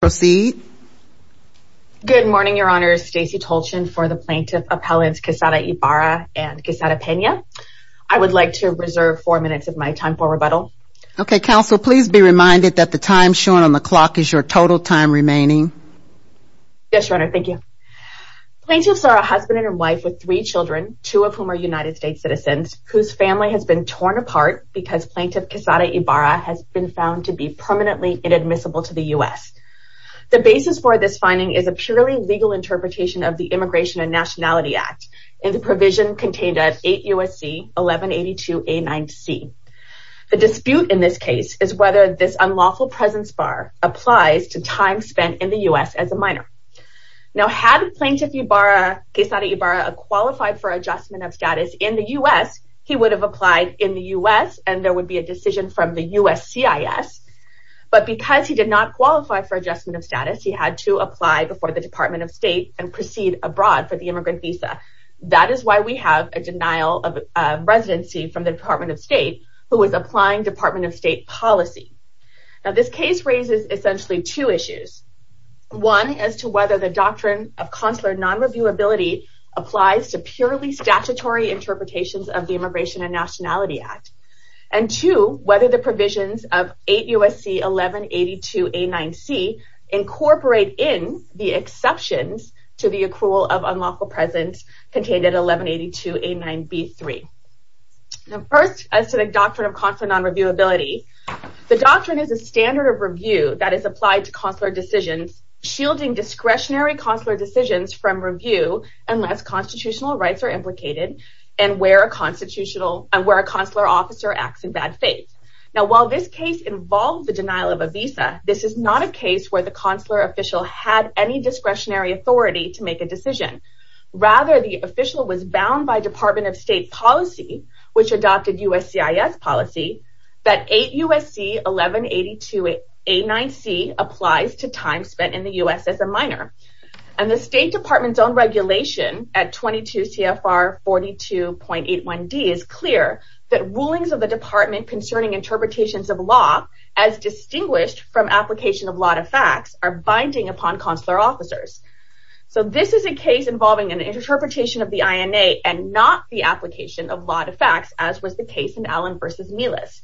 Proceed. Good morning, Your Honor. Stacey Tolchin for the Plaintiff Appellants Quezada Ibarra and Quezada Pena. I would like to reserve four minutes of my time for rebuttal. Okay, Counsel. Please be reminded that the time shown on the clock is your total time remaining. Yes, Your Honor. Thank you. Plaintiffs are a husband and wife with three children, two of whom are United States citizens, whose family has been torn apart because Plaintiff Quezada Ibarra has been found to be permanently inadmissible to the U.S. The basis for this finding is a purely legal interpretation of the Immigration and Nationality Act and the provision contained at 8 U.S.C. 1182A9C. The dispute in this case is whether this unlawful presence bar applies to time spent in the U.S. as a minor. Now, had Plaintiff Ibarra, Quezada Ibarra, qualified for adjustment of status in the U.S., he would have applied in the U.S. and there would be a decision from the U.S. CIS. But because he did not qualify for adjustment of status, he had to apply before the Department of State and proceed abroad for the immigrant visa. That is why we have a denial of residency from the Department of State, who is applying Department of State policy. Now, this case raises essentially two issues. One, as to whether the doctrine of consular non-reviewability applies to purely statutory interpretations of the Immigration and Nationality Act. And two, whether the provisions of 8 U.S.C. 1182A9C incorporate in the exceptions to the accrual of unlawful presence contained at 1182A9B3. Now, first, as to the doctrine of consular non-reviewability, the doctrine is a standard of review that is applied to consular decisions shielding discretionary consular decisions from review unless constitutional rights are implicated and where a consular officer acts in bad faith. Now, while this case involved the denial of a visa, this is not a case where the consular official had any discretionary authority to make a decision. Rather, the official was bound by Department of State policy, which adopted U.S. CIS policy, that 8 U.S.C. 1182A9C applies to time spent in the U.S. as a minor. And the State Department's own regulation at 22 CFR 42.81D is clear that rulings of the Department concerning interpretations of law as distinguished from application of lot of facts are binding upon consular officers. So, this is a case involving an interpretation of the INA and not the application of lot of facts as was the case in Allen v. Melis.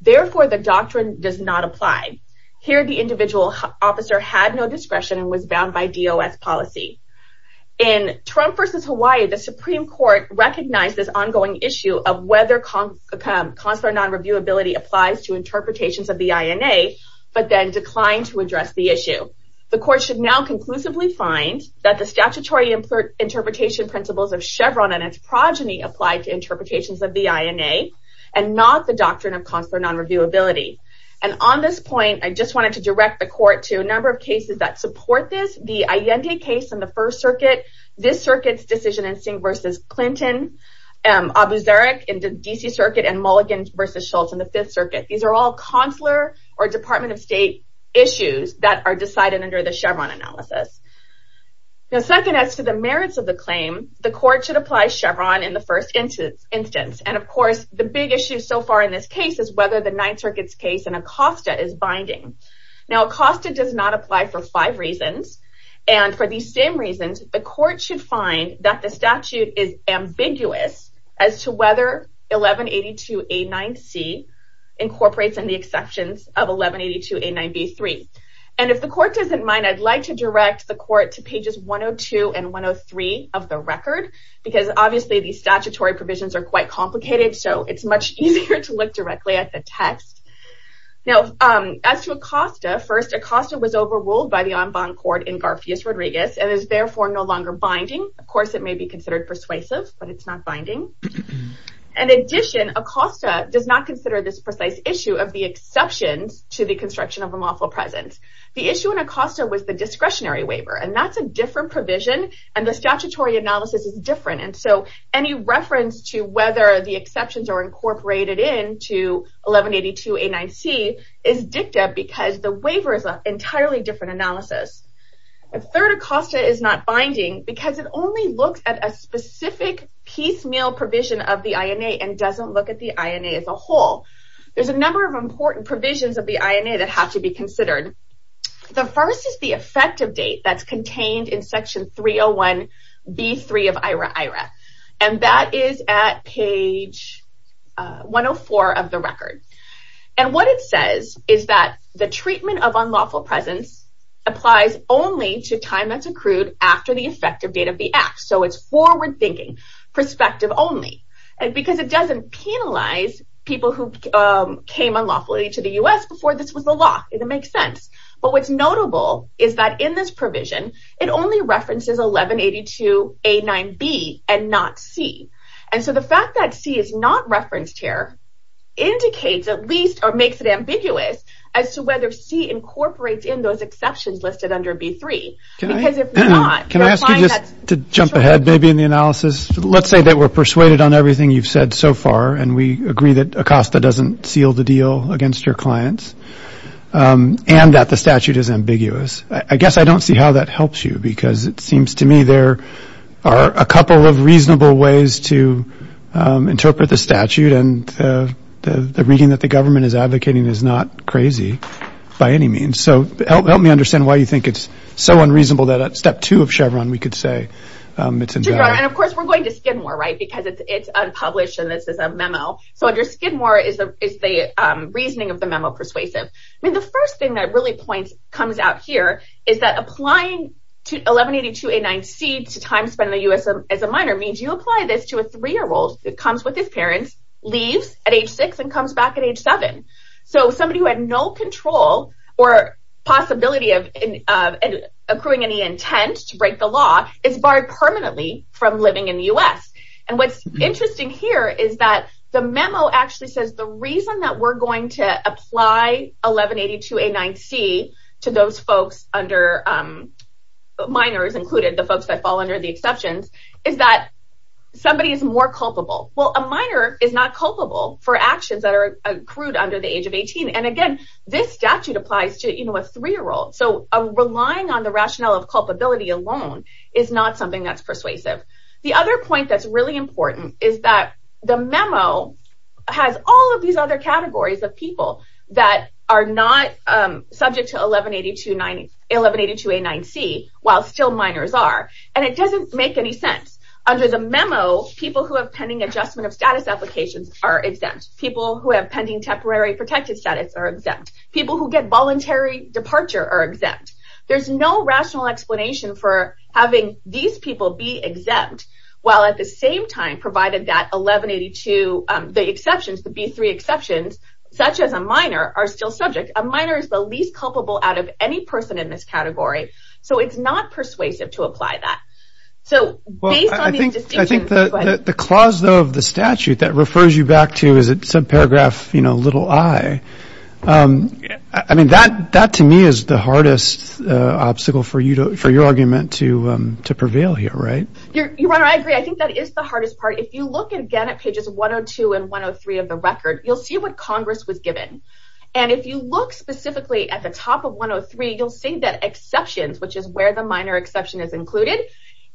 Therefore, the doctrine does not apply. Here, the individual officer had no discretion and was bound by DOS policy. In Trump v. Hawaii, the Supreme Court recognized this ongoing issue of whether consular non-reviewability applies to interpretations of the INA but then declined to address the issue. The Court should now conclusively find that the statutory interpretation principles of Chevron and its progeny apply to interpretations of the INA and not the doctrine of consular non-reviewability. And on this point, I just wanted to direct the Court to a number of cases that support this. The Allende case in the First Circuit, this Circuit's decision in Singh v. Clinton, Abu Zarq in the D.C. Circuit, and Mulligan v. Schultz in the Fifth Circuit. These are all consular or Department of State issues that are decided under the Chevron analysis. Now, second as to the merits of the claim, the Court should apply Chevron in the first instance. And of course, the big issue so far in this case is whether the Ninth Circuit's case in Acosta is binding. Now, Acosta does not apply for five reasons. And for these same reasons, the Court should find that the statute is ambiguous as to whether 1182A9C incorporates in the exceptions of 1182A9B3. And if the Court doesn't mind, I'd like to direct the Court to pages 102 and 103 of the record because, obviously, these statutory provisions are quite complicated, so it's much easier to look directly at the text. Now, as to Acosta, first, Acosta was overruled by the en banc court in Garfias v. Rodriguez and is therefore no longer binding. Of course, it may be considered persuasive, but it's not binding. In addition, Acosta does not consider this precise issue of the exceptions to the construction of a lawful presence. The issue in Acosta was the discretionary waiver, and that's a different provision, and the statutory analysis is different. And so any reference to whether the exceptions are incorporated into 1182A9C is dicta because the waiver is an entirely different analysis. Third, Acosta is not binding because it only looks at a specific piecemeal provision of the INA and doesn't look at the INA as a whole. There's a number of important provisions of the INA that have to be considered. The first is the effective date that's contained in Section 301B3 of IHRA-IHRA, and that is at page 104 of the record. And what it says is that the treatment of unlawful presence applies only to time that's accrued after the effective date of the act. So it's forward-thinking, perspective only, because it doesn't penalize people who came unlawfully to the U.S. before this was the law. It makes sense. But what's notable is that in this provision, it only references 1182A9B and not C. And so the fact that C is not referenced here indicates at least or makes it ambiguous as to whether C incorporates in those exceptions listed under B3. Can I ask you just to jump ahead maybe in the analysis? Let's say that we're persuaded on everything you've said so far and we agree that ACOSTA doesn't seal the deal against your clients and that the statute is ambiguous. I guess I don't see how that helps you because it seems to me there are a couple of reasonable ways to interpret the statute and the reading that the government is advocating is not crazy by any means. So help me understand why you think it's so unreasonable that at Step 2 of Chevron, we could say it's embarrassing. And of course, we're going to Skidmore, right, because it's unpublished and this is a memo. So under Skidmore is the reasoning of the memo persuasive. I mean, the first thing that really comes out here is that applying 1182A9C to time spent in the U.S. as a minor means you apply this to a 3-year-old that comes with his parents, leaves at age 6, and comes back at age 7. So somebody who had no control or possibility of accruing any intent to break the law is barred permanently from living in the U.S. And what's interesting here is that the memo actually says the reason that we're going to apply 1182A9C to those folks under minors included, the folks that fall under the exceptions, is that somebody is more culpable. Well, a minor is not culpable for actions that are accrued under the age of 18. And again, this statute applies to a 3-year-old. So relying on the rationale of culpability alone is not something that's persuasive. The other point that's really important is that the memo has all of these other categories of people that are not subject to 1182A9C while still minors are, and it doesn't make any sense. Under the memo, people who have pending adjustment of status applications are exempt. People who have pending temporary protected status are exempt. People who get voluntary departure are exempt. There's no rational explanation for having these people be exempt while at the same time providing that 1182, the exceptions, the B3 exceptions, such as a minor, are still subject. A minor is the least culpable out of any person in this category. So it's not persuasive to apply that. I think the clause, though, of the statute that refers you back to subparagraph little i, I mean, that to me is the hardest obstacle for your argument to prevail here, right? Your Honor, I agree. I think that is the hardest part. If you look again at pages 102 and 103 of the record, you'll see what Congress was given. And if you look specifically at the top of 103, you'll see that exceptions, which is where the minor exception is included,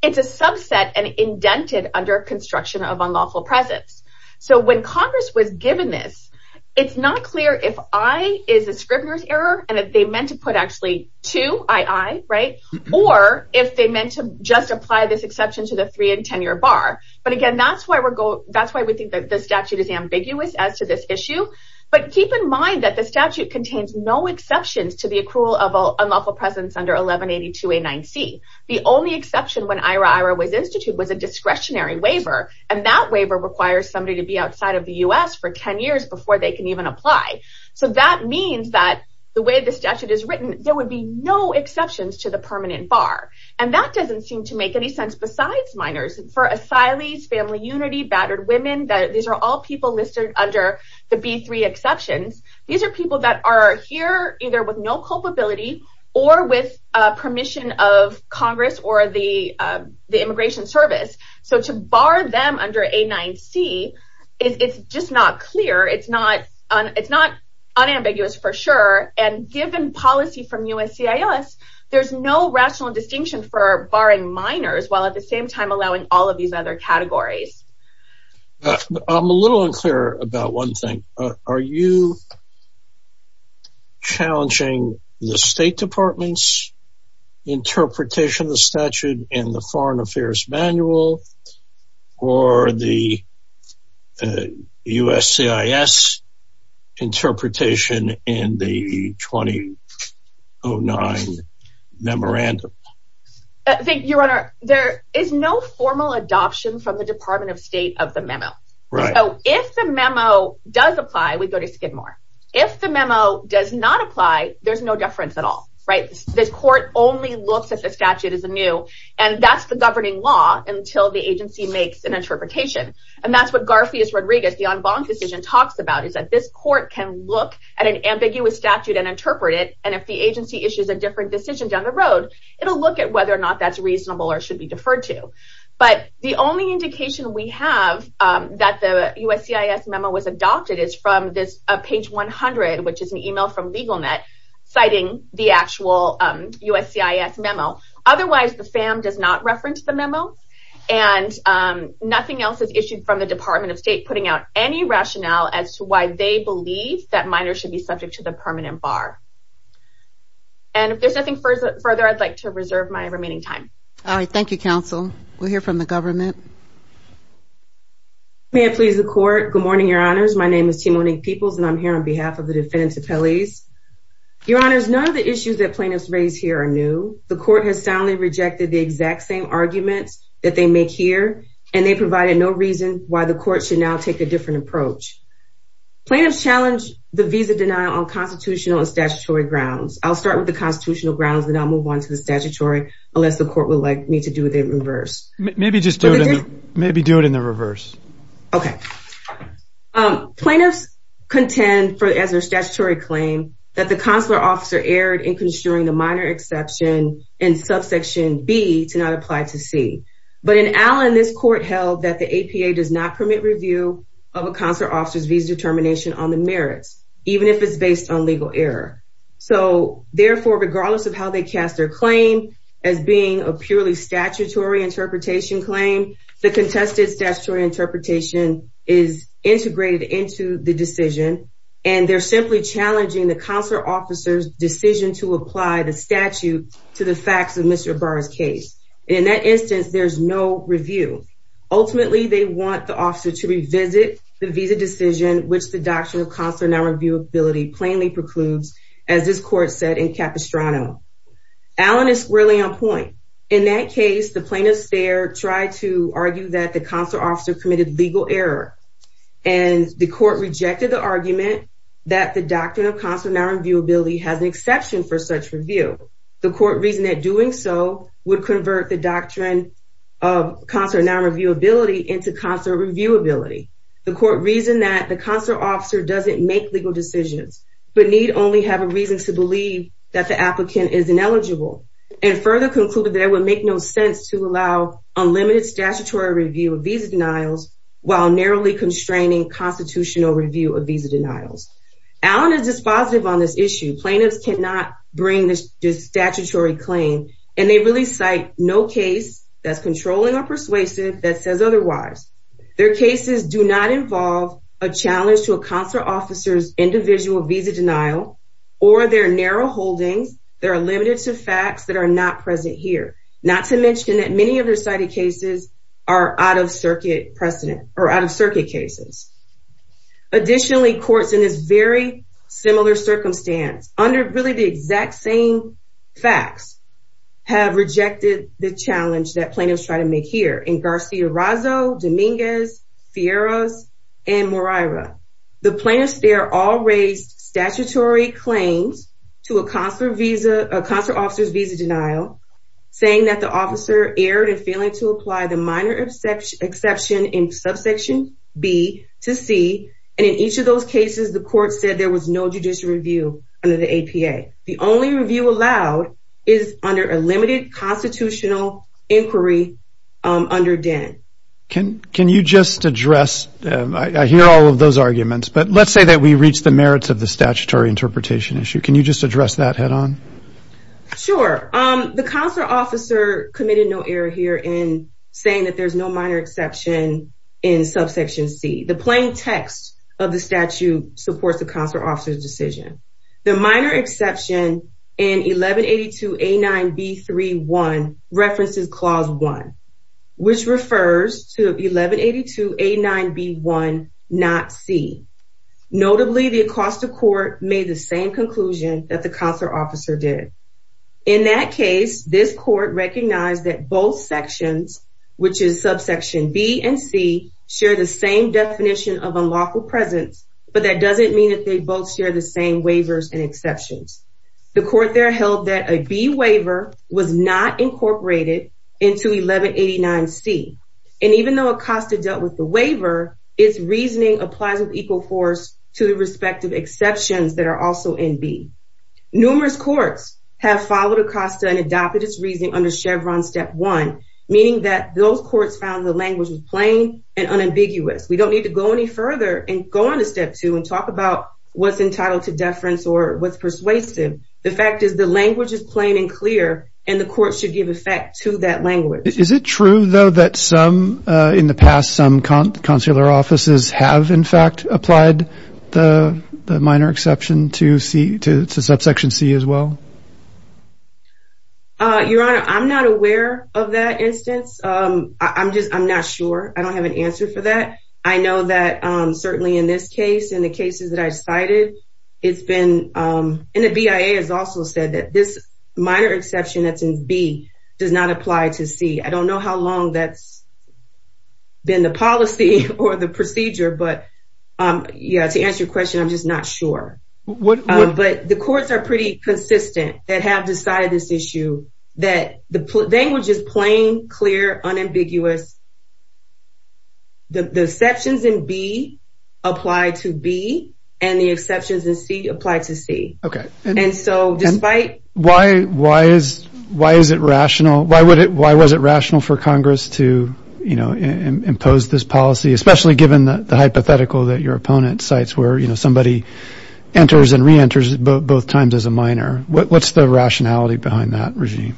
it's a subset and indented under construction of unlawful presence. So when Congress was given this, it's not clear if i is a scrivener's error and if they meant to put actually 2, i, i, right, or if they meant to just apply this exception to the 3 and 10-year bar. But again, that's why we think that the statute is ambiguous as to this issue. But keep in mind that the statute contains no exceptions to the accrual of unlawful presence under 1182A9C. The only exception when IRA, IRA was instituted was a discretionary waiver, and that waiver requires somebody to be outside of the U.S. for 10 years before they can even apply. So that means that the way the statute is written, there would be no exceptions to the permanent bar. And that doesn't seem to make any sense besides minors. For asylees, family unity, battered women, these are all people listed under the B3 exceptions. These are people that are here either with no culpability or with permission of Congress or the immigration service. So to bar them under A9C, it's just not clear. It's not unambiguous for sure. And given policy from USCIS, there's no rational distinction for barring minors while at the same time allowing all of these other categories. I'm a little unclear about one thing. Are you challenging the State Department's interpretation of the statute in the Foreign Affairs Manual or the USCIS interpretation in the 2009 memorandum? Your Honor, there is no formal adoption from the Department of State of the memo. So if the memo does apply, we go to Skidmore. If the memo does not apply, there's no deference at all. This court only looks at the statute as new, and that's the governing law until the agency makes an interpretation. And that's what Garfield Rodriguez, the en banc decision, talks about, is that this court can look at an ambiguous statute and interpret it, and if the agency issues a different decision down the road, it'll look at whether or not that's reasonable or should be deferred to. But the only indication we have that the USCIS memo was adopted is from page 100, which is an email from LegalNet citing the actual USCIS memo. Otherwise, the FAM does not reference the memo, and nothing else is issued from the Department of State putting out any rationale as to why they believe that minors should be subject to the permanent bar. And if there's nothing further, I'd like to reserve my remaining time. All right. Thank you, counsel. We'll hear from the government. May I please the court? Good morning, Your Honors. My name is Timonique Peoples, and I'm here on behalf of the defense appellees. Your Honors, none of the issues that plaintiffs raised here are new. The court has soundly rejected the exact same arguments that they make here, and they provided no reason why the court should now take a different approach. Plaintiffs challenge the visa denial on constitutional and statutory grounds. I'll start with the constitutional grounds, then I'll move on to the statutory, unless the court would like me to do the reverse. Maybe just do it in the reverse. Okay. Plaintiffs contend, as their statutory claim, that the consular officer erred in construing the minor exception in subsection B to not apply to C. But in Allen, this court held that the APA does not permit review of a consular officer's visa determination on the merits, even if it's based on legal error. So, therefore, regardless of how they cast their claim as being a purely statutory interpretation claim, the contested statutory interpretation is integrated into the decision, and they're simply challenging the consular officer's decision to apply the statute to the facts of Mr. Barr's case. In that instance, there's no review. Ultimately, they want the officer to revisit the visa decision, which the Doctrine of Consular Nonreviewability plainly precludes, as this court said in Capistrano. Allen is squarely on point. In that case, the plaintiffs there tried to argue that the consular officer committed legal error, and the court rejected the argument that the Doctrine of Consular Nonreviewability has an exception for such review. The court reasoned that doing so would convert the Doctrine of Consular Nonreviewability into consular reviewability. The court reasoned that the consular officer doesn't make legal decisions, but need only have a reason to believe that the applicant is ineligible, and further concluded that it would make no sense to allow unlimited statutory review of visa denials while narrowly constraining constitutional review of visa denials. Allen is dispositive on this issue. Plaintiffs cannot bring this statutory claim, and they really cite no case that's controlling or persuasive that says otherwise. Their cases do not involve a challenge to a consular officer's individual visa denial, or their narrow holdings that are limited to facts that are not present here, not to mention that many of their cited cases are out-of-circuit cases. Additionally, courts in this very similar circumstance, under really the exact same facts, have rejected the challenge that plaintiffs try to make here. In Garciarazzo, Dominguez, Fierros, and Moraira, the plaintiffs there all raised statutory claims to a consular officer's visa denial, saying that the officer erred in failing to apply the minor exception in subsection B to C, and in each of those cases the court said there was no judicial review under the APA. The only review allowed is under a limited constitutional inquiry under DEN. Can you just address, I hear all of those arguments, but let's say that we reach the merits of the statutory interpretation issue. Can you just address that head-on? Sure. The consular officer committed no error here in saying that there's no minor exception in subsection C. The plain text of the statute supports the consular officer's decision. The minor exception in 1182A9B3-1 references Clause 1, which refers to 1182A9B1, not C. Notably, the Acosta Court made the same conclusion that the consular officer did. In that case, this court recognized that both sections, which is subsection B and C, share the same definition of unlawful presence, but that doesn't mean that they both share the same waivers and exceptions. The court there held that a B waiver was not incorporated into 1189C, and even though Acosta dealt with the waiver, its reasoning applies with equal force to the respective exceptions that are also in B. Numerous courts have followed Acosta and adopted its reasoning under Chevron Step 1, meaning that those courts found the language was plain and unambiguous. We don't need to go any further and go on to Step 2 and talk about what's entitled to deference or what's persuasive. The fact is the language is plain and clear, and the court should give effect to that language. Is it true, though, that in the past some consular offices have, in fact, applied the minor exception to subsection C as well? Your Honor, I'm not aware of that instance. I'm not sure. I don't have an answer for that. I know that certainly in this case and the cases that I cited, and the BIA has also said that this minor exception that's in B does not apply to C. I don't know how long that's been the policy or the procedure, but to answer your question, I'm just not sure. But the courts are pretty consistent that have decided this issue, that the language is plain, clear, unambiguous. The exceptions in B apply to B, and the exceptions in C apply to C. Okay. And so despite – Why is it rational? Why was it rational for Congress to impose this policy, especially given the hypothetical that your opponent cites where somebody enters and reenters both times as a minor? What's the rationality behind that regime?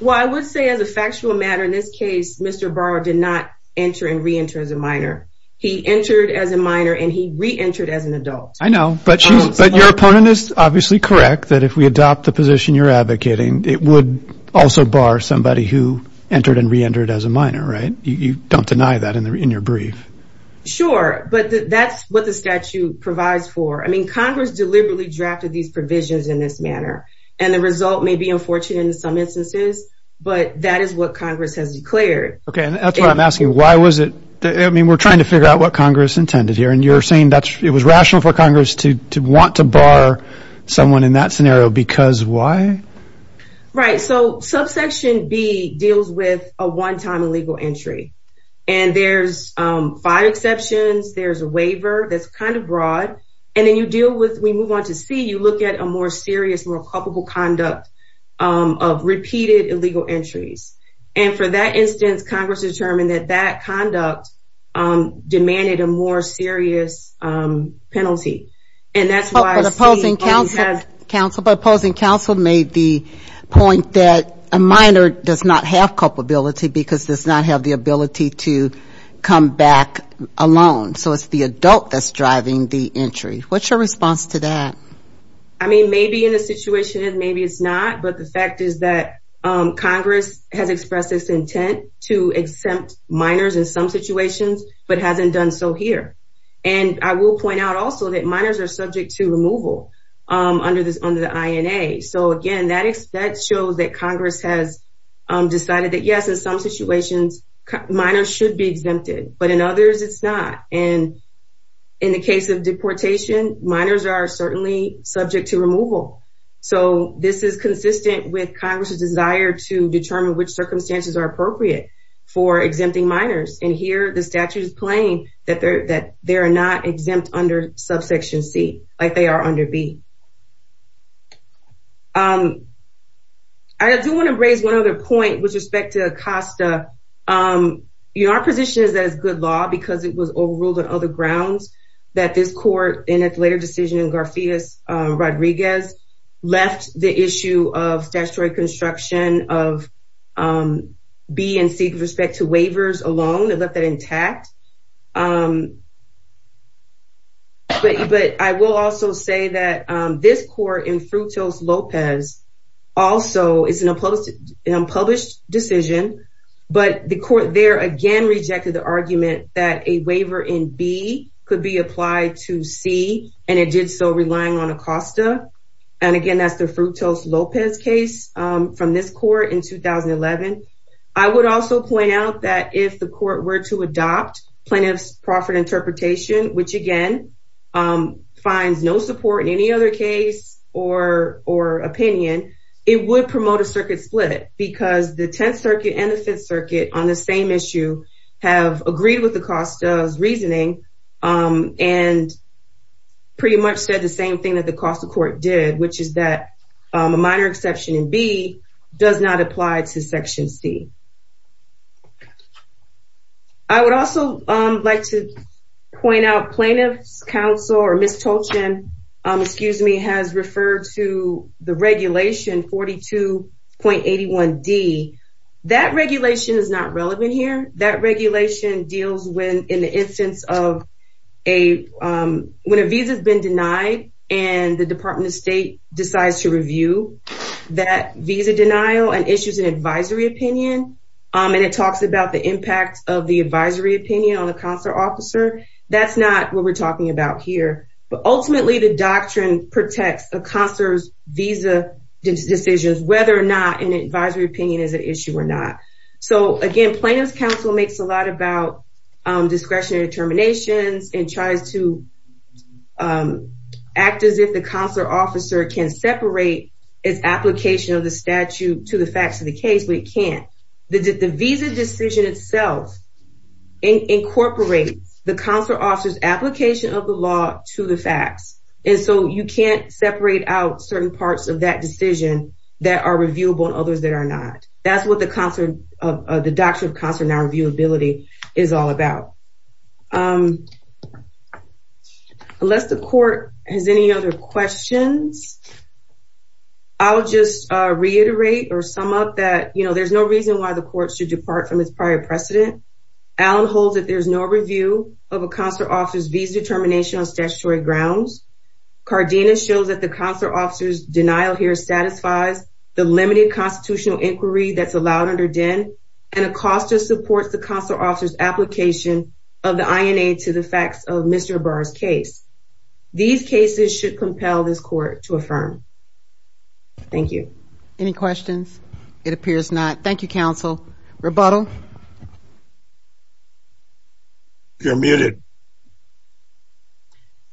Well, I would say as a factual matter in this case, Mr. Barr did not enter and reenter as a minor. He entered as a minor, and he reentered as an adult. I know. But your opponent is obviously correct that if we adopt the position you're advocating, it would also bar somebody who entered and reentered as a minor, right? You don't deny that in your brief. Sure. But that's what the statute provides for. I mean, Congress deliberately drafted these provisions in this manner, and the result may be unfortunate in some instances, but that is what Congress has declared. Okay. That's what I'm asking. Why was it – I mean, we're trying to figure out what Congress intended here, and you're saying it was rational for Congress to want to bar someone in that scenario because why? Right. So subsection B deals with a one-time illegal entry, and there's five exceptions, there's a waiver that's kind of broad, and then you deal with – of repeated illegal entries. And for that instance, Congress determined that that conduct demanded a more serious penalty. But opposing counsel made the point that a minor does not have culpability because does not have the ability to come back alone. So it's the adult that's driving the entry. What's your response to that? I mean, maybe in this situation, maybe it's not, but the fact is that Congress has expressed its intent to exempt minors in some situations, but hasn't done so here. And I will point out also that minors are subject to removal under the INA. So, again, that shows that Congress has decided that, yes, in some situations, minors should be exempted, but in others it's not. And in the case of deportation, minors are certainly subject to removal. So this is consistent with Congress's desire to determine which circumstances are appropriate for exempting minors. And here the statute is plain that they are not exempt under subsection C, like they are under B. I do want to raise one other point with respect to ACOSTA. Our position is that it's good law because it was overruled on other grounds, that this court in its later decision in Garcias-Rodriguez left the issue of statutory construction of B and C with respect to waivers alone. They left that intact. But I will also say that this court in Frutos-Lopez also is an unpublished decision, but the court there again rejected the argument that a waiver in B could be applied to C, and it did so relying on ACOSTA. And, again, that's the Frutos-Lopez case from this court in 2011. I would also point out that if the court were to adopt plaintiff's proffered interpretation, which, again, finds no support in any other case or opinion, it would promote a circuit split because the Tenth Circuit and the Fifth Circuit on the same issue have agreed with ACOSTA's reasoning and pretty much said the same thing that the cost of court did, which is that a minor exception in B does not apply to Section C. I would also like to point out plaintiff's counsel, or Ms. Tolchin, excuse me, has referred to the regulation 42.81D. That regulation is not relevant here. That regulation deals in the instance of when a visa's been denied and the Department of State decides to review that visa denial and issues an advisory opinion, and it talks about the impact of the advisory opinion on the counselor officer. That's not what we're talking about here. But, ultimately, the doctrine protects a counselor's visa decisions, whether or not an advisory opinion is an issue or not. So, again, plaintiff's counsel makes a lot about discretionary determinations and tries to act as if the counselor officer can separate its application of the statute to the facts of the case, but it can't. The visa decision itself incorporates the counselor officer's application of the law to the facts, and so you can't separate out certain parts of that decision that are reviewable and others that are not. That's what the doctrine of counselor non-reviewability is all about. Unless the court has any other questions, I'll just reiterate or sum up that, you know, there's no reason why the court should depart from its prior precedent. Allen holds that there's no review of a counselor officer's visa determination on statutory grounds. Cardenas shows that the counselor officer's denial here satisfies the limited constitutional inquiry that's allowed under DEN, and Acosta supports the counselor officer's application of the INA to the facts of Mr. Barr's case. These cases should compel this court to affirm. Thank you. Any questions? It appears not. Thank you, counsel. Rebuttal? You're muted.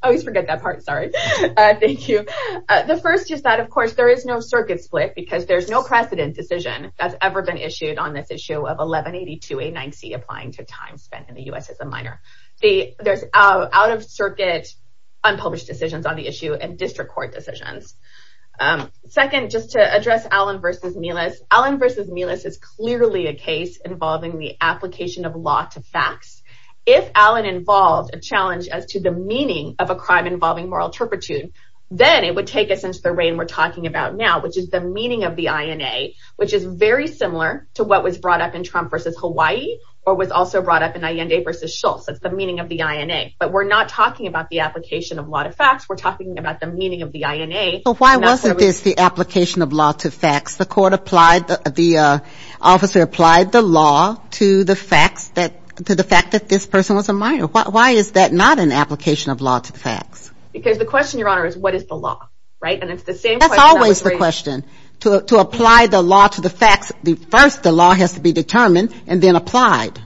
I always forget that part. Sorry. Thank you. The first is that, of course, there is no circuit split because there's no precedent decision that's ever been issued on this issue of 1182A9C applying to time spent in the U.S. as a minor. There's out-of-circuit unpublished decisions on the issue and district court decisions. Second, just to address Allen v. Melis, Allen v. Melis is clearly a case involving the application of law to facts. If Allen involved a challenge as to the meaning of a crime involving moral turpitude, then it would take us into the reign we're talking about now, which is the meaning of the INA, which is very similar to what was brought up in Trump v. Hawaii or was also brought up in Allende v. Schultz. That's the meaning of the INA. But we're not talking about the application of law to facts. We're talking about the meaning of the INA. So why wasn't this the application of law to facts? The officer applied the law to the fact that this person was a minor. Why is that not an application of law to facts? Because the question, Your Honor, is what is the law, right? That's always the question. To apply the law to the facts, first the law has to be determined and then applied.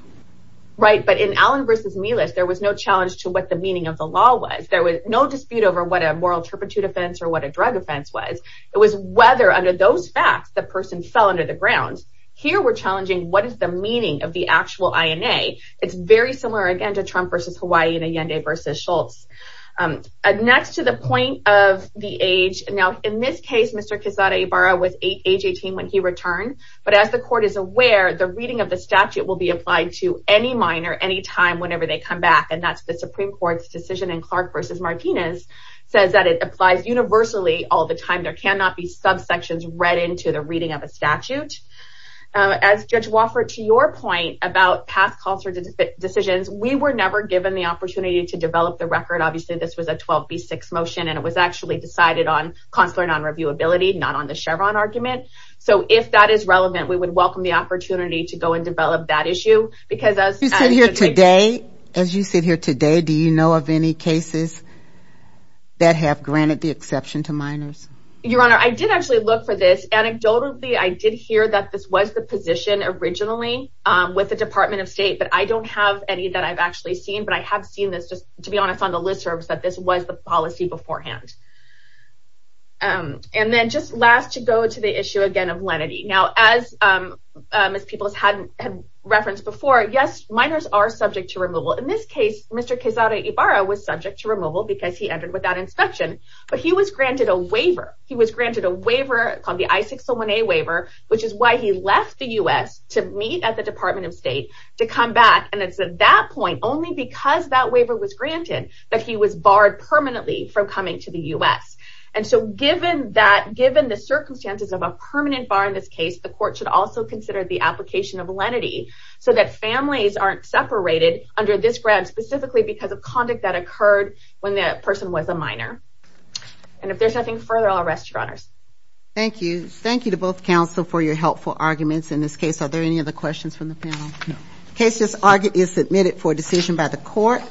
Right, but in Allen v. Melis, there was no challenge to what the meaning of the law was. There was no dispute over what a moral turpitude offense or what a drug offense was. It was whether, under those facts, the person fell under the ground. Here we're challenging what is the meaning of the actual INA. It's very similar, again, to Trump v. Hawaii and Allende v. Schultz. Next, to the point of the age. Now, in this case, Mr. Quezada Ibarra was age 18 when he returned. But as the court is aware, the reading of the statute will be applied to any minor, anytime, whenever they come back. And that's the Supreme Court's decision in Clark v. Martinez says that it applies universally all the time. There cannot be subsections read into the reading of a statute. As Judge Wofford, to your point about past consular decisions, we were never given the opportunity to develop the record. Obviously, this was a 12b6 motion, and it was actually decided on consular nonreviewability, not on the Chevron argument. So if that is relevant, we would welcome the opportunity to go and develop that issue. As you sit here today, do you know of any cases that have granted the exception to minors? Your Honor, I did actually look for this. Anecdotally, I did hear that this was the position originally with the Department of State. But I don't have any that I've actually seen. But I have seen this, just to be honest, on the listservs, that this was the policy beforehand. And then, just last, to go to the issue again of lenity. Now, as Ms. Peoples had referenced before, yes, minors are subject to removal. In this case, Mr. Quezada Ibarra was subject to removal because he entered without inspection. But he was granted a waiver. He was granted a waiver called the I-601A waiver, which is why he left the U.S. to meet at the Department of State to come back. And it's at that point, only because that waiver was granted, that he was barred permanently from coming to the U.S. And so given the circumstances of a permanent bar in this case, the court should also consider the application of lenity so that families aren't separated under this grant specifically because of conduct that occurred when the person was a minor. And if there's nothing further, I'll rest, Your Honors. Thank you. Thank you to both counsel for your helpful arguments in this case. Are there any other questions from the panel? No. The case is submitted for decision by the court.